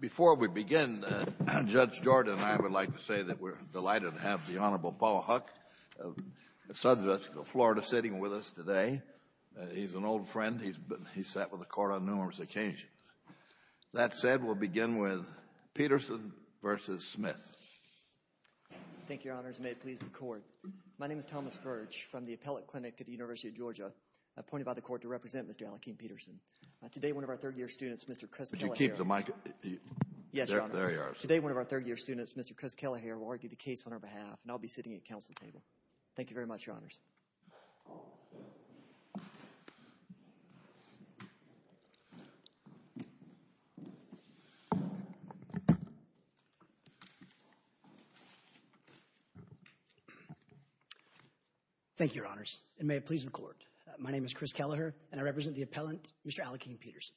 Before we begin, Judge Jordan and I would like to say that we're delighted to have the Honorable Paul Huck of Southwest Florida sitting with us today. He's an old friend. He's sat with the Court on numerous occasions. That said, we'll begin with Peterson v. Smith. Thank you, Your Honors, and may it please the Court. My name is Thomas Virch from the Appellate Clinic at the University of Georgia, appointed by the Court to represent Mr. Laakeem Peterson. Today, one of our third-year students, Mr. Chris Kelleher, will argue the case on our behalf, and I'll be sitting at the Council table. Thank you very much, Your Honors. Thank you, Your Honors, and may it please the Court. My name is Chris Kelleher, and I represent the appellant, Mr. Laakeem Peterson.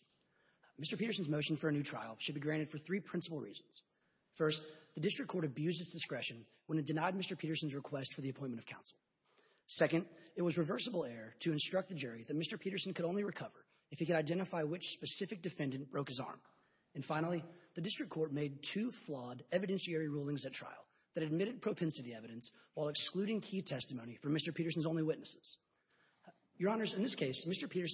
Mr. Peterson's motion for a new trial should be granted for three principal reasons. First, the District Court abused its discretion when it denied Mr. Peterson's request for the appointment of counsel. Second, it was reversible error to instruct the jury that Mr. Peterson could only recover if he could identify which specific defendant broke his arm. And finally, the District Court made two flawed evidentiary rulings at trial that admitted propensity evidence while excluding key testimony for Mr. Peterson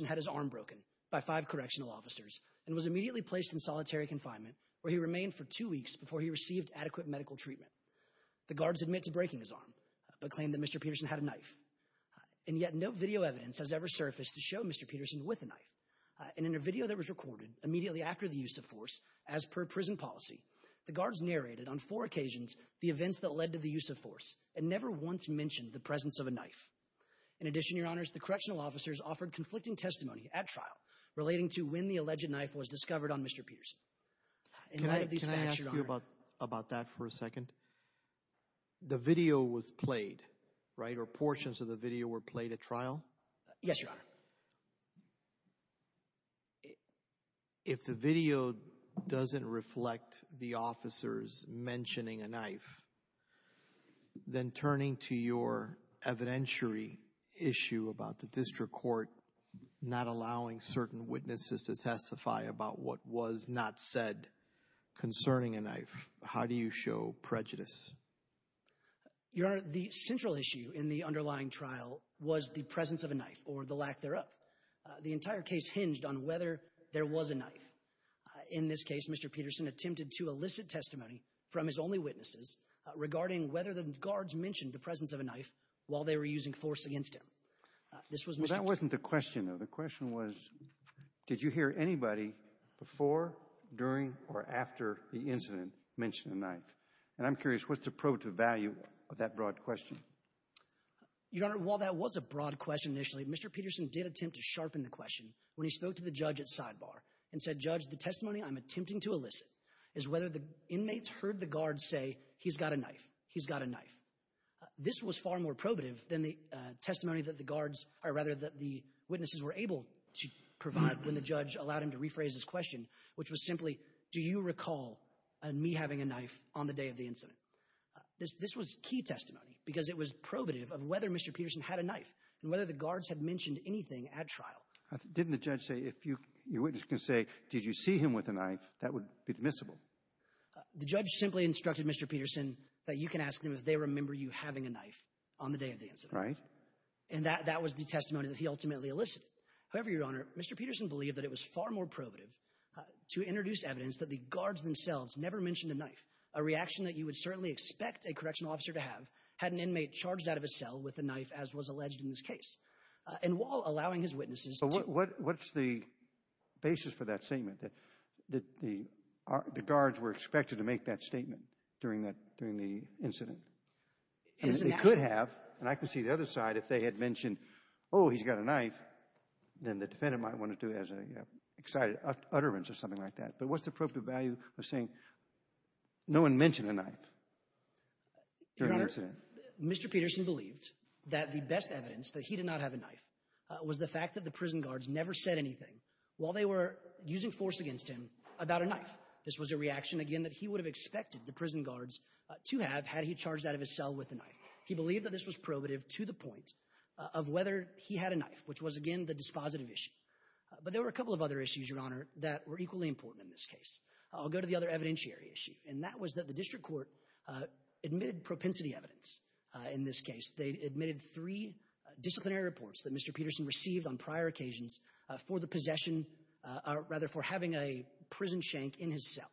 had his arm broken by five correctional officers and was immediately placed in solitary confinement where he remained for two weeks before he received adequate medical treatment. The guards admit to breaking his arm, but claimed that Mr. Peterson had a knife. And yet, no video evidence has ever surfaced to show Mr. Peterson with a knife. And in a video that was recorded immediately after the use of force, as per prison policy, the guards narrated on four occasions the events that led to the use of force and never once mentioned the presence of a knife. In addition, Your Honors, the correctional officers offered conflicting testimony at trial relating to when the alleged knife was discovered on Mr. Peterson. Can I ask you about that for a second? The video was played, right? Or portions of the video were played at trial? Yes, Your Honor. If the video doesn't reflect the officers mentioning a knife, then turning to your evidentiary issue about the District Court not allowing certain witnesses to testify about what was not said concerning a knife, how do you show prejudice? Your Honor, the central issue in the underlying trial was the presence of a knife or the lack thereof. The entire case hinged on whether there was a knife. In this case, Mr. Peterson attempted to elicit testimony from his only witnesses regarding whether the guards mentioned the presence of a knife while they were using force against him. Well, that wasn't the question, though. The question was, did you hear anybody before, during, or after the incident mention a knife? And I'm curious, what's the probative value of that broad question? Your Honor, while that was a broad question initially, Mr. Peterson did attempt to sharpen the question when he spoke to the judge at sidebar and said, Judge, the testimony I'm attempting to elicit is whether the inmates heard the guards say, he's got a knife, he's got a knife. This was far more probative than the testimony that the guards, or rather, that the witnesses were able to provide when the judge allowed him to rephrase his question, which was simply, do you recall me having a knife on the day of the incident? This was key testimony because it was probative of whether Mr. Peterson had a knife and whether the guards had mentioned anything at trial. Didn't the judge say, if your witness can say, did you see him with a knife, that would be dismissible? The judge simply instructed Mr. Peterson that you can ask them if they remember you having a knife on the day of the incident. Right. And that was the testimony that he ultimately elicited. However, Your Honor, Mr. Peterson believed that it was far more probative to introduce evidence that the guards themselves never mentioned a knife, a reaction that you would certainly expect a correctional officer to have, had an inmate charged out of a cell with a knife, as was alleged in this case. And while allowing his witnesses to... What's the basis for that statement, that the guards were expected to make that statement during the incident? It could have, and I can see the other side, if they had mentioned, oh, he's got a knife, then the defendant might want to do that as an excited utterance or something like that. But what's the probative value of saying no one mentioned a knife during the incident? Your Honor, Mr. Peterson believed that the best evidence that he did not have a knife was the fact that the prison guards never said anything while they were using force against him about a knife. This was a reaction, again, that he would have expected the prison guards to have had he charged out of his cell with a knife. He believed that this was probative to the point of whether he had a knife, which was, again, the dispositive issue. But there were a couple of other issues, Your Honor, that were equally important in this case. I'll go to the other evidentiary issue, and that was that the district court admitted propensity evidence in this case. They admitted three disciplinary reports that Mr. Peterson received on prior occasions for the possession, or rather for having a prison shank in his cell.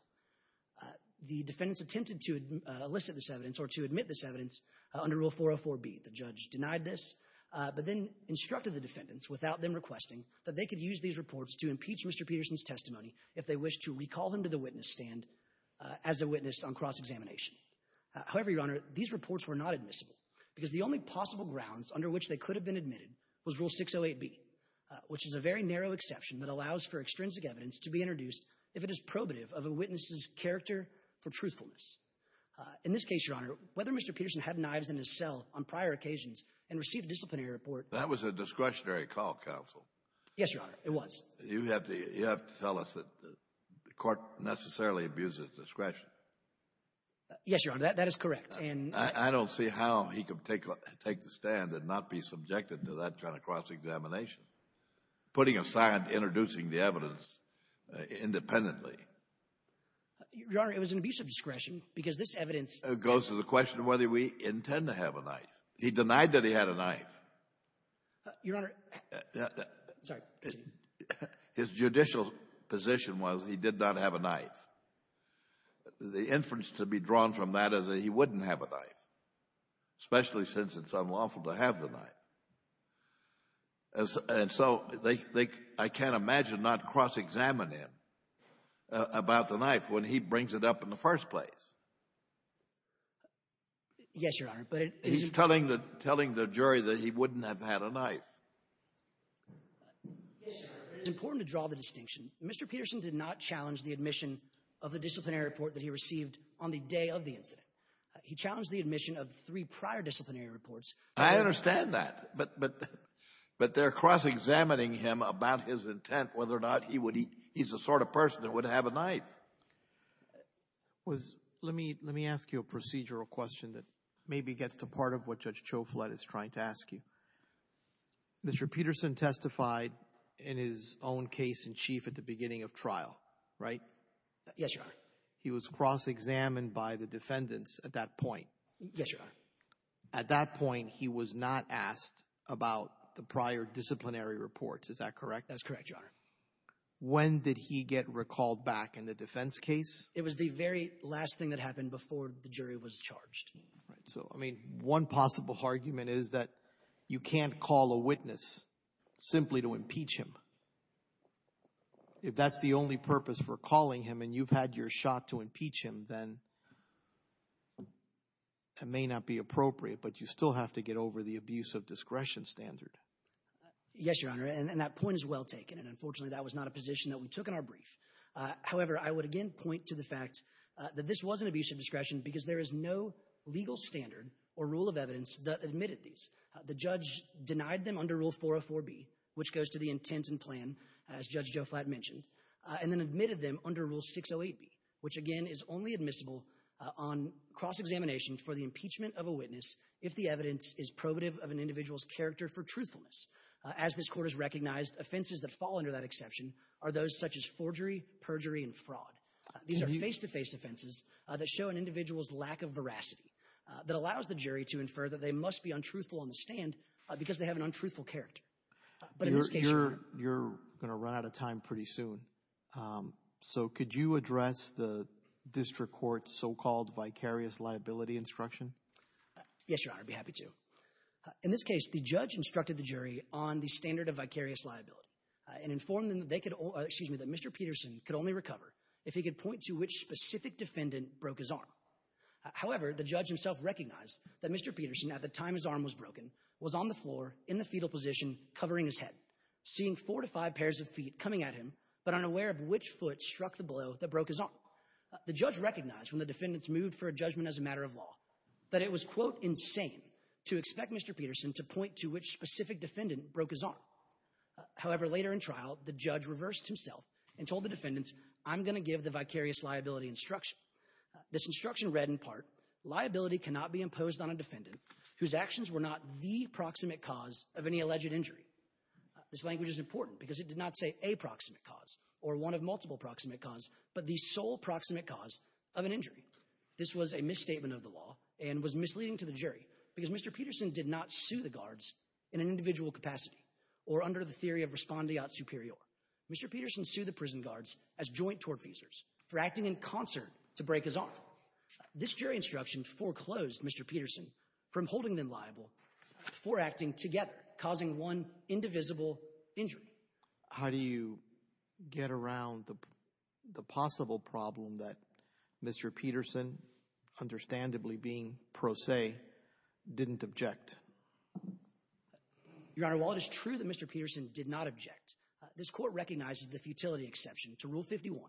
The defendants attempted to elicit this evidence or to admit this evidence under Rule 404B. The judge denied this, but then instructed the defendants, without them requesting, that they could use these reports to impeach Mr. Peterson's testimony if they wish to recall him to the witness stand as a witness on cross-examination. However, Your Honor, these reports were not admissible because the only possible grounds under which they could have been admitted was Rule 608B, which is a very narrow exception that allows for extrinsic evidence to be introduced if it is probative of a witness's character for truthfulness. In this case, Your Honor, whether Mr. Peterson had knives in his cell on prior occasions and received a disciplinary report— That was a discretionary call, counsel. Yes, Your Honor, it was. You have to tell us that the court necessarily abuses discretion. Yes, Your Honor, that is correct, and— I don't see how he could take the stand and not be subjected to that kind of cross-examination, putting aside introducing the evidence independently. Your Honor, it was an abuse of discretion because this evidence— It goes to the question of whether we intend to have a knife. He denied that he had a knife. Your Honor, sorry. His judicial position was he did not have a knife. The inference to be drawn from that is that he wouldn't have a knife, especially since it's unlawful to have the knife. And so I can't imagine not cross-examining him about the knife when he brings it up in the first place. Yes, Your Honor, but it— He's telling the jury that he wouldn't have had a knife. Yes, Your Honor, but it's important to draw the distinction. Mr. Peterson did not challenge the admission of the disciplinary report that he received on the day of the incident. He challenged the admission of three prior disciplinary reports— I understand that, but they're cross-examining him about his intent, whether or not he's the sort of person that would have a knife. Let me ask you a procedural question that maybe gets to part of what Judge Chauflet is trying to ask you. Mr. Peterson testified in his own case in chief at the beginning of trial, right? Yes, Your Honor. He was cross-examined by the defendants at that point. Yes, Your Honor. At that point, he was not asked about the prior disciplinary reports. Is that correct? That's correct, Your Honor. When did he get recalled back in the defense case? It was the very last thing that happened before the jury was charged. So, I mean, one possible argument is that you can't call a witness simply to impeach him. If that's the only purpose for calling him and you've had your shot to impeach him, then it may not be appropriate, but you still have to get over the abuse of discretion standard. Yes, Your Honor, and that point is well taken, and unfortunately that was not a position that we took in our brief. However, I would again point to the fact that this was an abuse of discretion because there is no legal standard or rule of evidence that admitted these. The judge denied them under Rule 404B, which goes to the intent and plan, as Judge Chauflet mentioned, and then admitted them under Rule 608B, which again is only admissible on cross-examination for the impeachment of a witness if the evidence is probative of an individual's character for truthfulness. As this Court has recognized, offenses that fall under that exception are those such as forgery, perjury, and fraud. These are face-to-face offenses that show an individual's lack of veracity that allows the jury to infer that they must be untruthful on the stand because they have an untruthful character. You're going to run out of time pretty soon. So could you address the District Court's so-called vicarious liability instruction? Yes, Your Honor, I'd be happy to. In this case, the judge instructed the jury on the standard of vicarious liability and informed them that Mr. Peterson could only recover if he could point to which specific defendant broke his arm. However, the judge himself recognized that Mr. Peterson, at the time his arm was broken, was on the floor in the fetal position covering his head, seeing four to five pairs of feet coming at him, but unaware of which foot struck the blow that broke his arm. The judge recognized when the defendants moved for a judgment as a matter of law that it was, quote, insane to expect Mr. Peterson to point to which specific defendant broke his arm. However, later in trial, the judge reversed himself and told the defendants, I'm going to give the vicarious liability instruction. This instruction read in part, Liability cannot be imposed on a defendant whose actions were not the proximate cause of any alleged injury. This language is important because it did not say a proximate cause or one of multiple proximate cause, but the sole proximate cause of an injury. This was a misstatement of the law and was misleading to the jury because Mr. Peterson did not sue the guards in an individual capacity or under the theory of respondeat superior. Mr. Peterson sued the prison guards as joint tortfeasors for acting in concert to break his arm. This jury instruction foreclosed Mr. Peterson from holding them liable for acting together, causing one indivisible injury. How do you get around the possible problem that Mr. Peterson, understandably being pro se, didn't object? Your Honor, while it is true that Mr. Peterson did not object, this court recognizes the futility exception to Rule 51,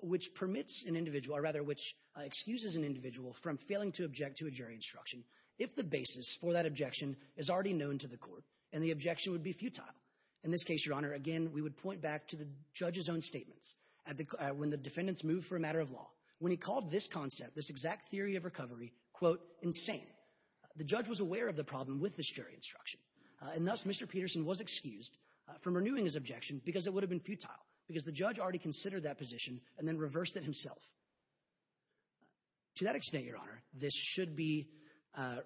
which permits an individual, or rather which excuses an individual from failing to object to a jury instruction if the basis for that objection is already known to the court and the objection would be futile. In this case, Your Honor, again, we would point back to the judge's own statements when the defendants moved for a matter of law. When he called this concept, this exact theory of recovery, quote, insane, the judge was aware of the problem with this jury instruction. And thus, Mr. Peterson was excused from renewing his objection because it would have been futile, because the judge already considered that position and then reversed it himself. To that extent, Your Honor, this should be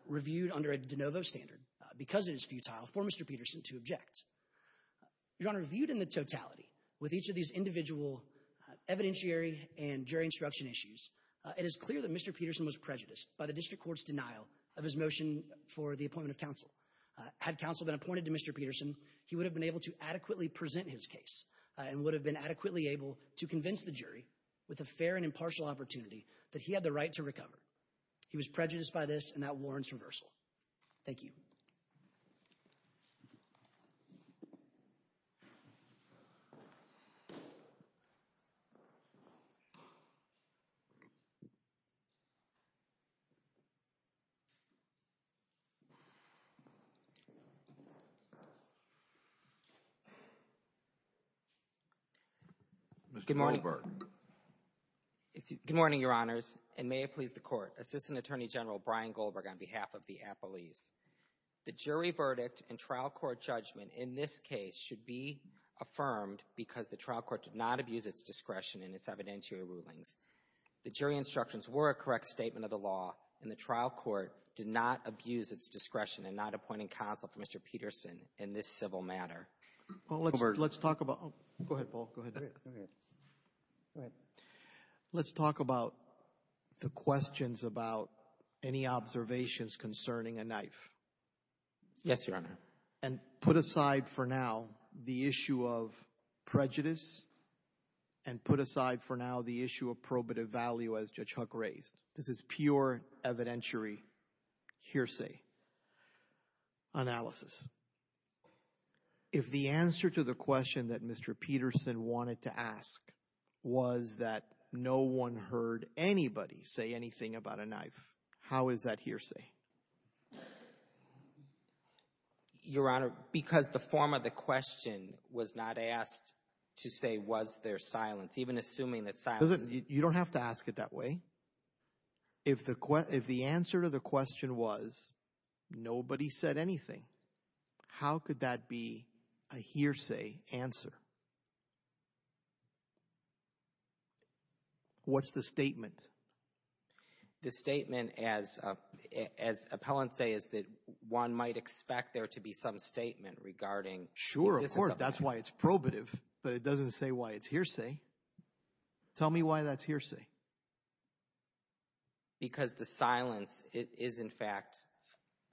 reviewed under a de novo standard because it is futile for Mr. Peterson to object. Your Honor, viewed in the totality, with each of these individual evidentiary and jury instruction issues, it is clear that Mr. Peterson was prejudiced by the district court's denial of his motion for the appointment of counsel. Had counsel been appointed to Mr. Peterson, he would have been able to adequately present his case and would have been adequately able to convince the jury with a fair and impartial opportunity that he had the right to recover. He was prejudiced by this and that warrants reversal. Thank you. Mr. Goldberg. Good morning, Your Honors, and may it please the Court. Assistant Attorney General Brian Goldberg on behalf of the appellees. The jury verdict and trial court judgment in this case should be affirmed because the trial court did not abuse its discretion in its evidentiary rulings. The jury instructions were a correct statement of the law and the trial court did not abuse its discretion in not appointing counsel for Mr. Peterson in this civil matter. Mr. Goldberg. Go ahead, Paul. Let's talk about the questions about any observations concerning a knife. Yes, Your Honor. And put aside for now the issue of prejudice and put aside for now the issue of probative value as Judge Huck raised. This is pure evidentiary hearsay. Analysis. If the answer to the question that Mr. Peterson wanted to ask was that no one heard anybody say anything about a knife, how is that hearsay? Your Honor, because the form of the question was not asked to say was there silence, even assuming that silence... You don't have to ask it that way. If the answer to the question was nobody said anything, how could that be a hearsay answer? What's the statement? The statement, as appellants say, is that the existence of a knife. That's why it's probative, but it doesn't say why it's hearsay. Tell me why that's hearsay. Because the silence is, in fact,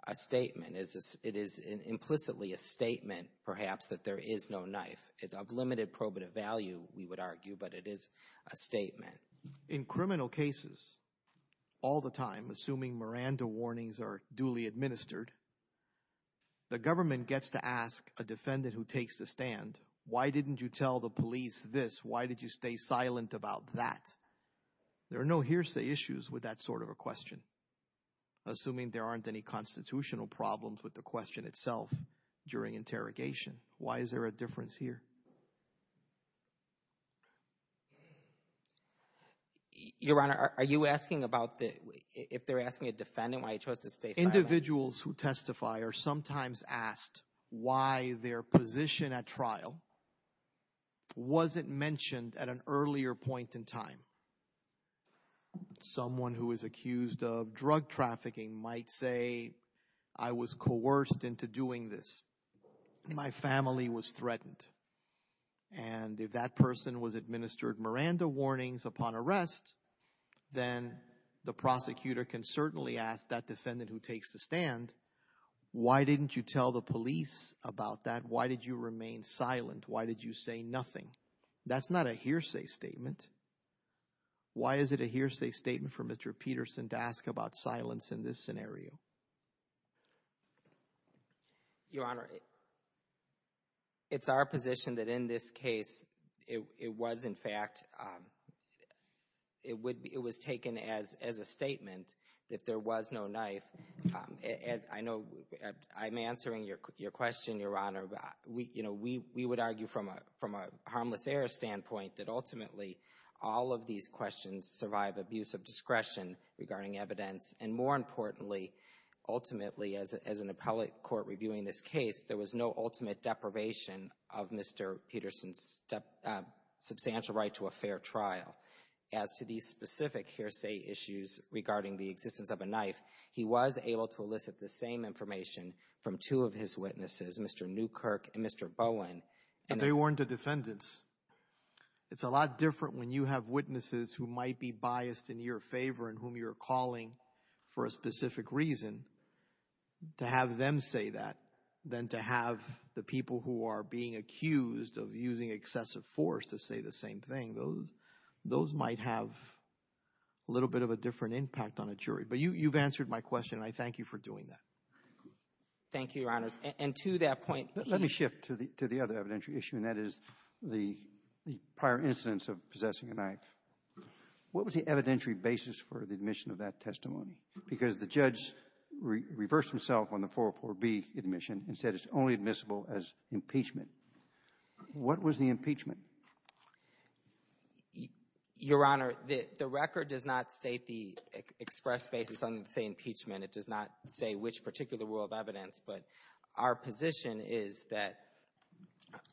a statement. It is implicitly a statement, perhaps, that there is no knife. Of limited probative value, we would argue, but it is a statement. In criminal cases, all the time, assuming Miranda warnings are duly administered, the government gets to ask a defendant who takes the stand, why didn't you tell the police this? Why did you stay silent about that? There are no hearsay issues with that sort of a question, assuming there aren't any constitutional problems with the question itself during interrogation. Why is there a difference here? Your Honor, are you asking about the... Individuals who testify are sometimes asked why their position at trial wasn't mentioned at an earlier point in time. Someone who is accused of drug trafficking might say, I was coerced into doing this. My family was threatened. And if that person was administered Miranda warnings upon arrest, then the prosecutor can certainly ask that defendant who takes the stand, why didn't you tell the police about that? Why did you remain silent? Why did you say nothing? That's not a hearsay statement. Why is it a hearsay statement for Mr. Peterson to ask about silence in this scenario? Your Honor, it's our position that in this case, it was, in fact, it was taken as a statement that there was no knife. I know I'm answering your question, Your Honor. We would argue from a harmless error standpoint that ultimately all of these questions survive abuse of discretion regarding evidence. And more importantly, ultimately, as an appellate court reviewing this case, there was no ultimate deprivation of Mr. Peterson's substantial right to a fair trial. As to these specific hearsay issues regarding the existence of a knife, he was able to elicit the same information from two of his witnesses, Mr. Newkirk and Mr. Bowen. But they weren't the defendants. It's a lot different when you have witnesses who might be biased in your favor and whom you're calling for a specific reason to have them say that than to have the people who are being accused of using excessive force to say the same thing. Those might have a little bit of a different impact on a jury. But you've answered my question, and I thank you for doing that. Thank you, Your Honors. And to that point, let me shift to the other evidentiary issue, and that is the prior incidence of possessing a knife. What was the evidentiary basis for the admission of that testimony? Because the judge reversed himself on the 404B admission and said it's only admissible as impeachment. What was the impeachment? Your Honor, the record does not state the express basis on the same impeachment. It does not say which particular rule of evidence. But our position is that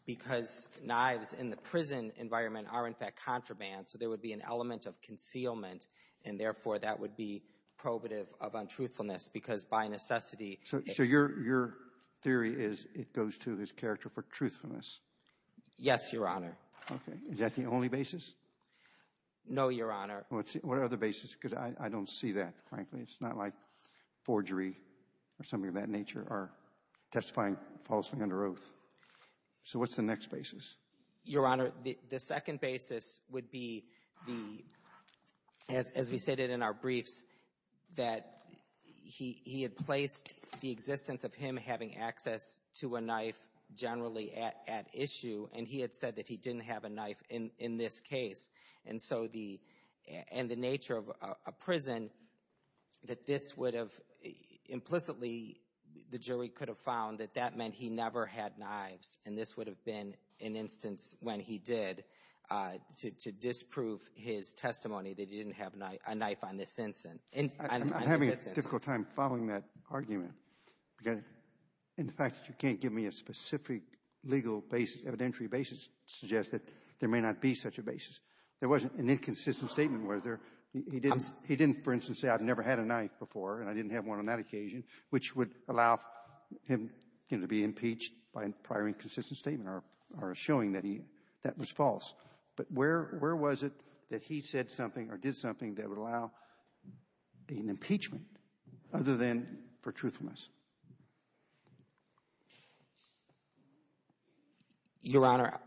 because knives in the prison environment are in fact contraband, so there would be an element of concealment, and therefore that would be So your theory is it goes to his character for truthfulness? Yes, Your Honor. Okay. Is that the only basis? No, Your Honor. What other basis? Because I don't see that, frankly. It's not like forgery or something of that nature or testifying falsely under oath. So what's the next basis? Your Honor, the second basis would be the as we stated in our briefs, that he had placed the existence of him having access to a knife generally at issue, and he had said that he didn't have a knife in this case. And so the nature of a prison, that this would have implicitly, the jury could have found that that meant he never had knives. And this would have been an instance when he did to disprove his testimony that he didn't have a knife on this instance. I'm having a difficult time following that argument. In fact, you can't give me a specific legal basis, evidentiary basis to suggest that there may not be such a basis. There wasn't an inconsistent statement, was there? He didn't, for instance, say I've never had a knife before and I didn't have one on that occasion, which would allow him to be impeached by a prior inconsistent statement or showing that he, that was false. But where, where was it that he said something or did something that would allow an impeachment other than for truthfulness? Your Honor,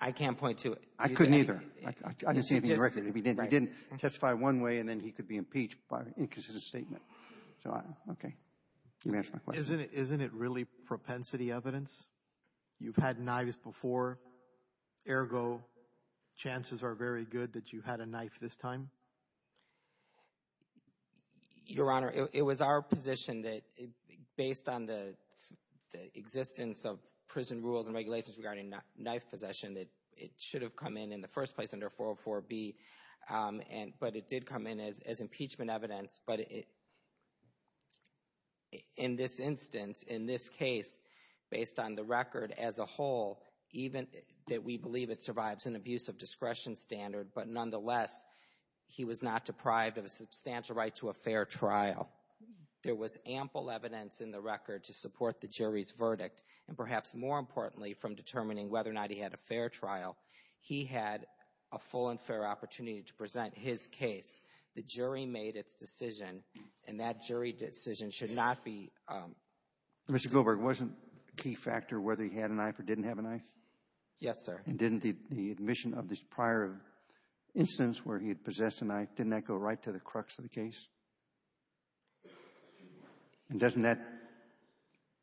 I can't point to it. I couldn't either. I didn't see anything directly. I didn't testify one way and then he could be impeached by an inconsistent statement. So, okay. You may ask my question. Isn't it really propensity evidence? You've had knives before. Ergo, chances are very good that you had a knife this time. Your Honor, it was our position that based on the existence of prison rules and regulations regarding knife possession that it should have come in in the first place under 404B but it did come in as impeachment evidence but in this instance, in this case, based on the record as a whole even that we believe it survives an abusive discretion standard but nonetheless he was not deprived of a substantial right to a fair trial. There was ample evidence in the record to support the jury's verdict and perhaps more importantly from determining whether or not he had a fair trial, he had a full and fair opportunity to present his case. The jury made its decision and that Mr. Goldberg, wasn't a key factor whether he had a knife or didn't have a knife? Yes, sir. And didn't the admission of this prior instance where he had possessed a knife didn't that go right to the crux of the case? And doesn't that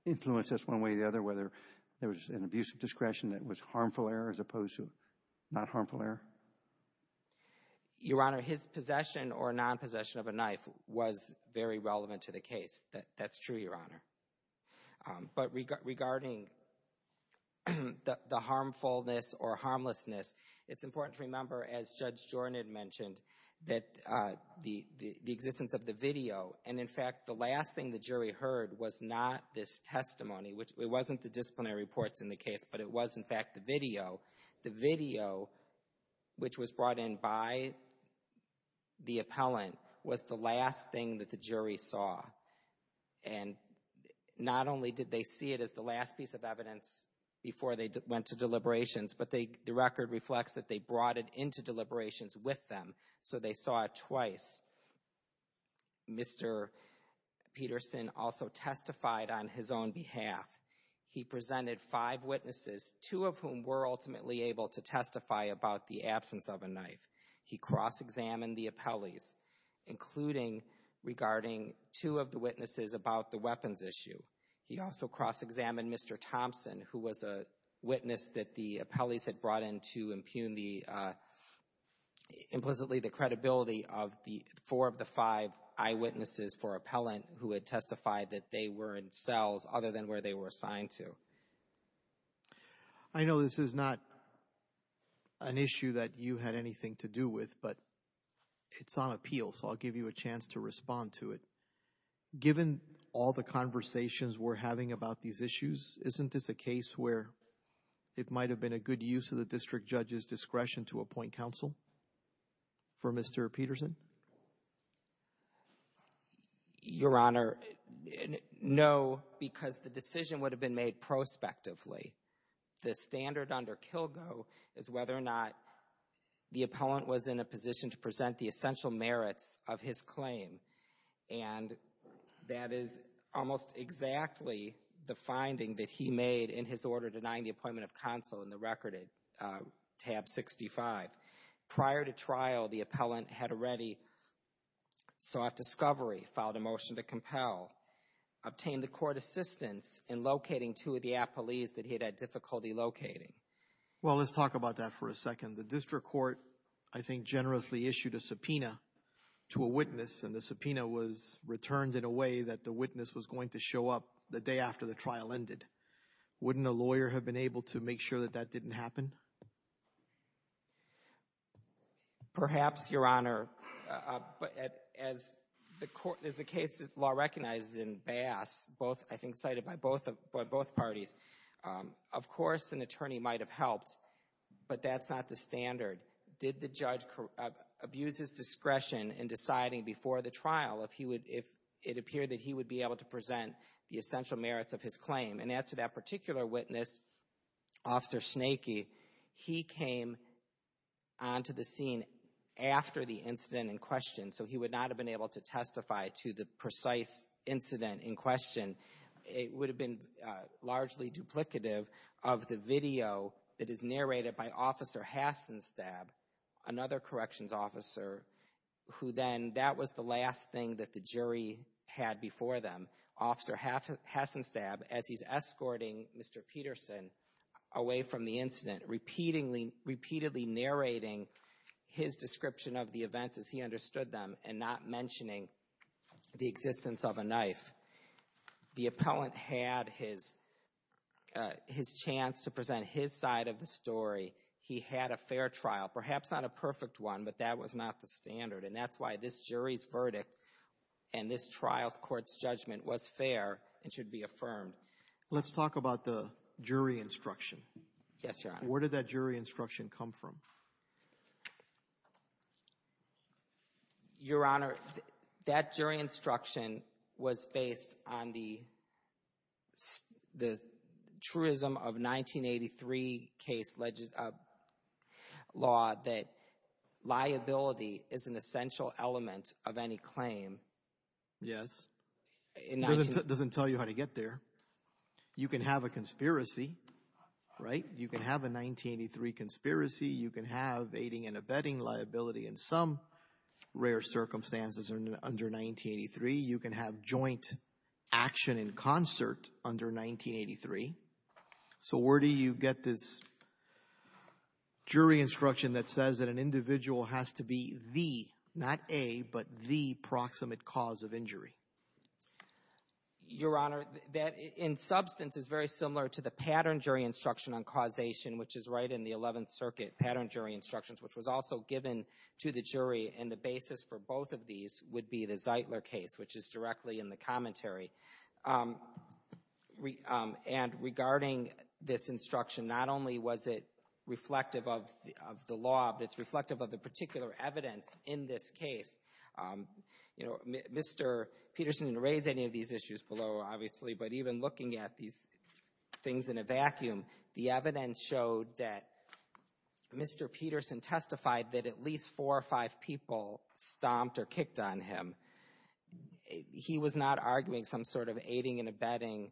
influence this one way or the other whether there was an abusive discretion that was harmful error as opposed to not harmful error? Your Honor, his possession or non-possession of a knife was very harmful. But regarding the harmfulness or harmlessness, it's important to remember as Judge Jornan mentioned that the existence of the video and in fact the last thing the jury heard was not this testimony. It wasn't the disciplinary reports in the case but it was in fact the video. The video which was brought in by the appellant was the last thing that the jury saw. And not only did they see it as the last piece of evidence before they went to deliberations but the record reflects that they brought it into deliberations with them. So they saw it twice. Mr. Peterson also testified on his own behalf. He presented five witnesses two of whom were ultimately able to testify about the absence of a knife. He cross-examined the appellees including regarding two of the witnesses about the weapons issue. He also cross-examined Mr. Thompson who was a witness that the appellees had brought in to impugn the implicitly the credibility of the four of the five eyewitnesses for appellant who had testified that they were in cells other than where they were assigned to. I know this is not an issue that you had anything to do with but it's on appeal so I'll give you a chance to respond to it. Given all the conversations we're having about these issues isn't this a case where it might have been a good use of the district judge's discretion to appoint counsel for Mr. Peterson? Your Honor no because the decision would have been made prospectively. The standard under the appellant was in a position to present the essential merits of his claim and that is almost exactly the finding that he made in his order denying the appointment of counsel in the record tab 65. Prior to trial the appellant had already sought discovery, filed a motion to compel, obtained the court assistance in locating two of the appellees that he had difficulty locating. Well let's talk about that for a second. The district court I think generously issued a subpoena to a witness and the subpoena was returned in a way that the witness was going to show up the day after the trial ended. Wouldn't a lawyer have been able to make sure that that didn't happen? Perhaps Your Honor but as the case law recognizes in Bass both I think cited by both parties of course an attorney might have helped but that's not the standard. Did the judge abuse his discretion in deciding before the trial if he would if it appeared that he would be able to present the essential merits of his claim and add to that particular witness Officer Snakey he came onto the scene after the incident in question so he would not have been able to testify to the precise incident in question. It would have been largely duplicative of the video that is narrated by Officer Hasenstab another corrections officer who then that was the last thing that the jury had before them. Officer Hasenstab as he's escorting Mr. Peterson away from the incident repeatedly narrating his description of the events as he understood them and not mentioning the existence of a knife. The appellant had his chance to present his side of the story. He had a fair trial perhaps not a perfect one but that was not the standard and that's why this jury's verdict and this trial's court's judgment was fair and should be affirmed. Let's talk about the jury instruction. Where did that jury instruction come from? Your Honor that jury instruction was based on the truism of 1983 case law that liability is an essential element of any claim. Yes. It doesn't tell you how to get there. You can have a conspiracy right? You can have a 1983 conspiracy. You can have aiding and abetting liability in some rare circumstances under 1983. You can have joint action in concert under 1983. So where do you get this jury instruction that says that an individual has to be the not a but the proximate cause of injury? Your Honor that in substance is very similar to the 11th Circuit pattern jury instructions which was also given to the jury and the basis for both of these would be the Zeitler case which is directly in the commentary. And regarding this instruction not only was it reflective of the law but it's reflective of the particular evidence in this case. Mr. Peterson didn't raise any of these issues below obviously but even looking at these things in a vacuum the evidence showed that Mr. Peterson testified that at least four or five people stomped or kicked on him. He was not arguing some sort of aiding and abetting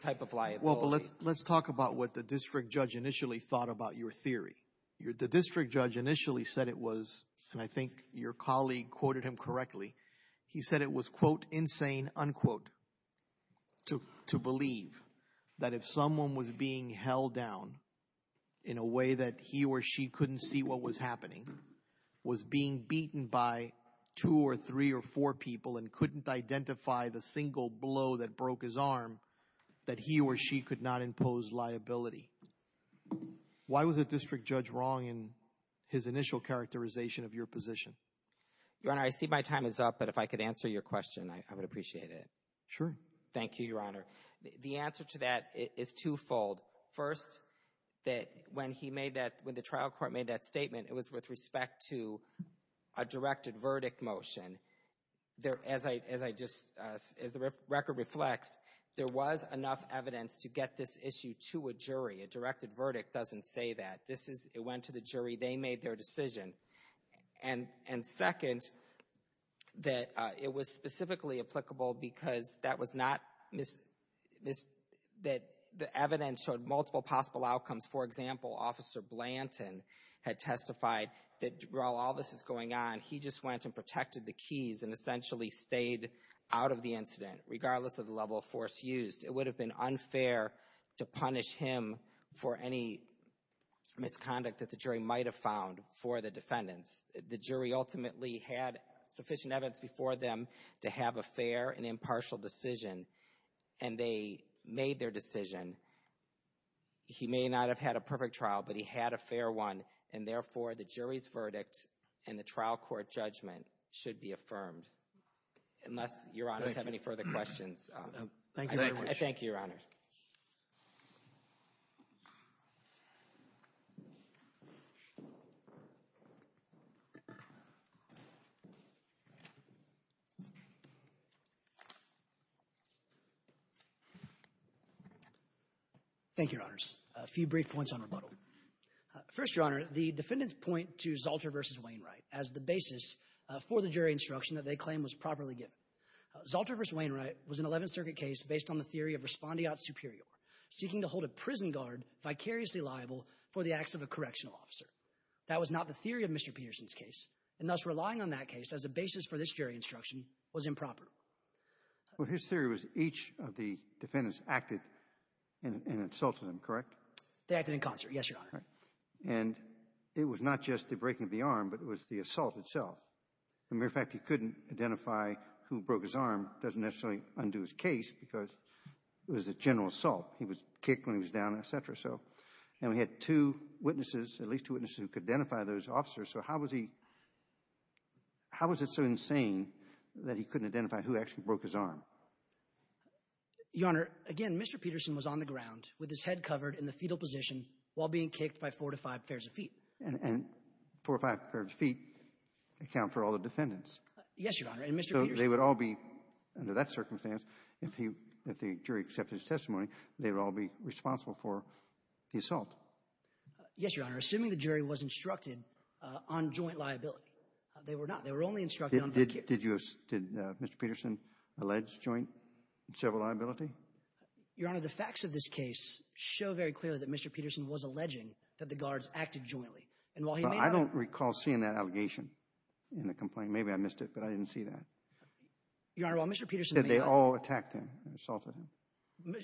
type of liability. Let's talk about what the district judge initially thought about your theory. The district judge initially said it was and I think your colleague quoted him correctly he said it was quote insane unquote to believe that if someone was being held down in a way that he or she couldn't see what was happening was being beaten by two or three or four people and couldn't identify the single blow that broke his arm that he or she could not impose liability. Why was the district judge wrong in his initial characterization of your position? Your Honor I see my time is up but if I could answer your question I would appreciate it. Sure. Thank you Your Honor. The answer to that is twofold. First that when he made that when the trial court made that statement it was with respect to a directed verdict motion. As the record reflects there was enough evidence to get this issue to a jury. A directed verdict doesn't say that. It went to the jury. They made their decision. And second that it was specifically applicable because that was not the evidence showed multiple possible outcomes. For example Officer Blanton had testified that while all this is going on he just went and protected the keys and essentially stayed out of the incident regardless of the level of force used. It would have been unfair to punish him for any misconduct that the jury might have found for the defendants. The jury ultimately had sufficient evidence before them to have a fair and impartial decision and they made their decision. He may not have had a perfect trial but he had a fair one and therefore the jury's verdict and the trial court judgment should be affirmed. Unless Your Honors have any further questions. Thank you Your Honor. Thank you. Thank you Your Honors. A few brief points on rebuttal. First Your Honor, the defendants point to Zalter v. Wainwright as the basis for the jury instruction that they claim was properly given. Zalter v. Wainwright was an 11th Circuit case based on the theory of respondeat superior seeking to hold a prison guard vicariously liable for the acts of a correctional officer. That was not the theory of Mr. Peterson's case and thus relying on that case as a basis for this jury instruction was improper. Well his theory was each of the defendants acted and insulted him, correct? They acted in concert, yes Your Honor. And it was not just the breaking of the arm but it was the assault itself. Matter of fact he couldn't identify who broke his arm, doesn't necessarily undo his case because it was a general assault. He was kicked when he was down, etc. So, and we had two witnesses at least two witnesses who could identify those officers. So how was he how was it so insane that he couldn't identify who actually broke his arm? Your Honor, again Mr. Peterson was on the ground with his head covered in the fetal position while being kicked by four to five pairs of feet. And four or five pairs of feet account for all the defendants? Yes Your Honor. So they would all be, under that circumstance if the jury accepted his testimony, they would all be responsible for the assault? Yes Your Honor. Assuming the jury was instructed on joint liability. They were not. They were only instructed on... Did Mr. Peterson allege joint and several liability? Your Honor, the facts of this case show very clearly that Mr. Peterson was alleging that the guards acted jointly. And while he may not... I don't recall seeing that Your Honor, while Mr. Peterson... Did they all attack him? Assaulted him?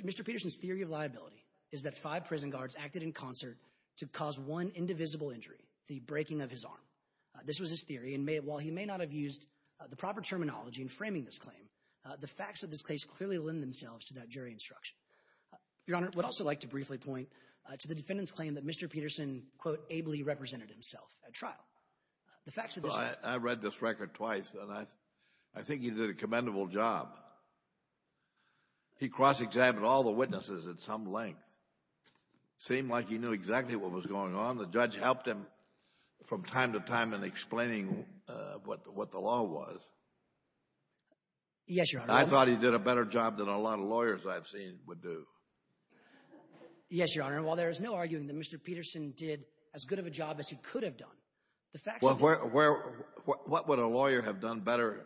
Mr. Peterson's theory of liability is that five prison guards acted in concert to cause one indivisible injury, the breaking of his arm. This was his theory. And while he may not have used the proper terminology in framing this claim, the facts of this case clearly lend themselves to that jury instruction. Your Honor, I would also like to briefly point to the defendant's claim that Mr. Peterson quote, ably represented himself at trial. The facts of this... I read this record twice and I think he did a commendable job. He cross-examined all the witnesses at some length. Seemed like he knew exactly what was going on. The judge helped him from time to time in explaining what the law was. Yes, Your Honor. I thought he did a better job than a lot of lawyers I've seen would do. Yes, Your Honor. And while there is no arguing that Mr. Peterson did as good of a job as he could have done, the facts of this... What would a lawyer have done better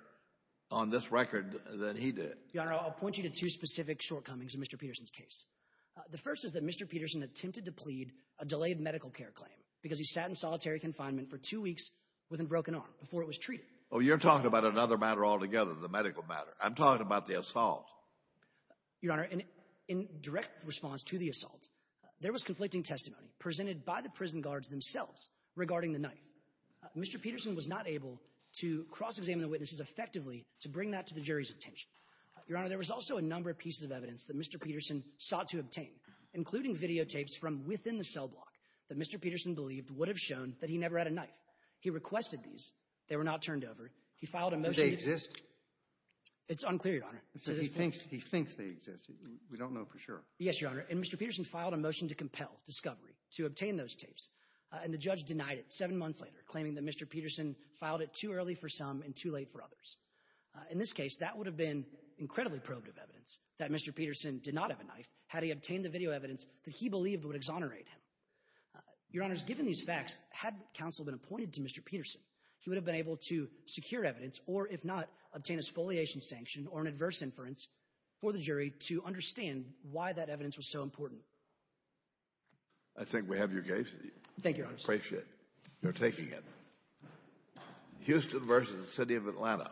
on this record than he did? Your Honor, I'll point you to two specific shortcomings in Mr. Peterson's case. The first is that Mr. Peterson attempted to plead a delayed medical care claim because he sat in solitary confinement for two weeks with a broken arm before it was treated. Oh, you're talking about another matter altogether, the medical matter. I'm talking about the assault. Your Honor, in direct response to the assault, there was conflicting testimony presented by the prison guards themselves regarding the knife. Mr. Peterson was not able to cross-examine the witnesses effectively to bring that to the jury's attention. Your Honor, there was also a number of pieces of evidence that Mr. Peterson sought to obtain, including videotapes from within the cell block that Mr. Peterson believed would have shown that he never had a knife. He requested these. They were not turned over. He filed a motion... Do they exist? It's unclear, Your Honor. He thinks they exist. We don't know for sure. Yes, Your Honor, and Mr. Peterson filed a motion to compel discovery to obtain those tapes, and the judge denied it seven months later, claiming that Mr. Peterson filed it too early for some and too late for others. In this case, that would have been incredibly probative evidence that Mr. Peterson did not have a knife had he obtained the video evidence that he believed would exonerate him. Your Honor, given these facts, had counsel been appointed to Mr. Peterson, he would have been able to secure evidence or, if not, obtain a scoliation sanction or an adverse inference for the jury to understand why that evidence was so important. I think we have your case. Thank you, Your Honor. I appreciate it. You're taking it. Houston v. City of Atlanta.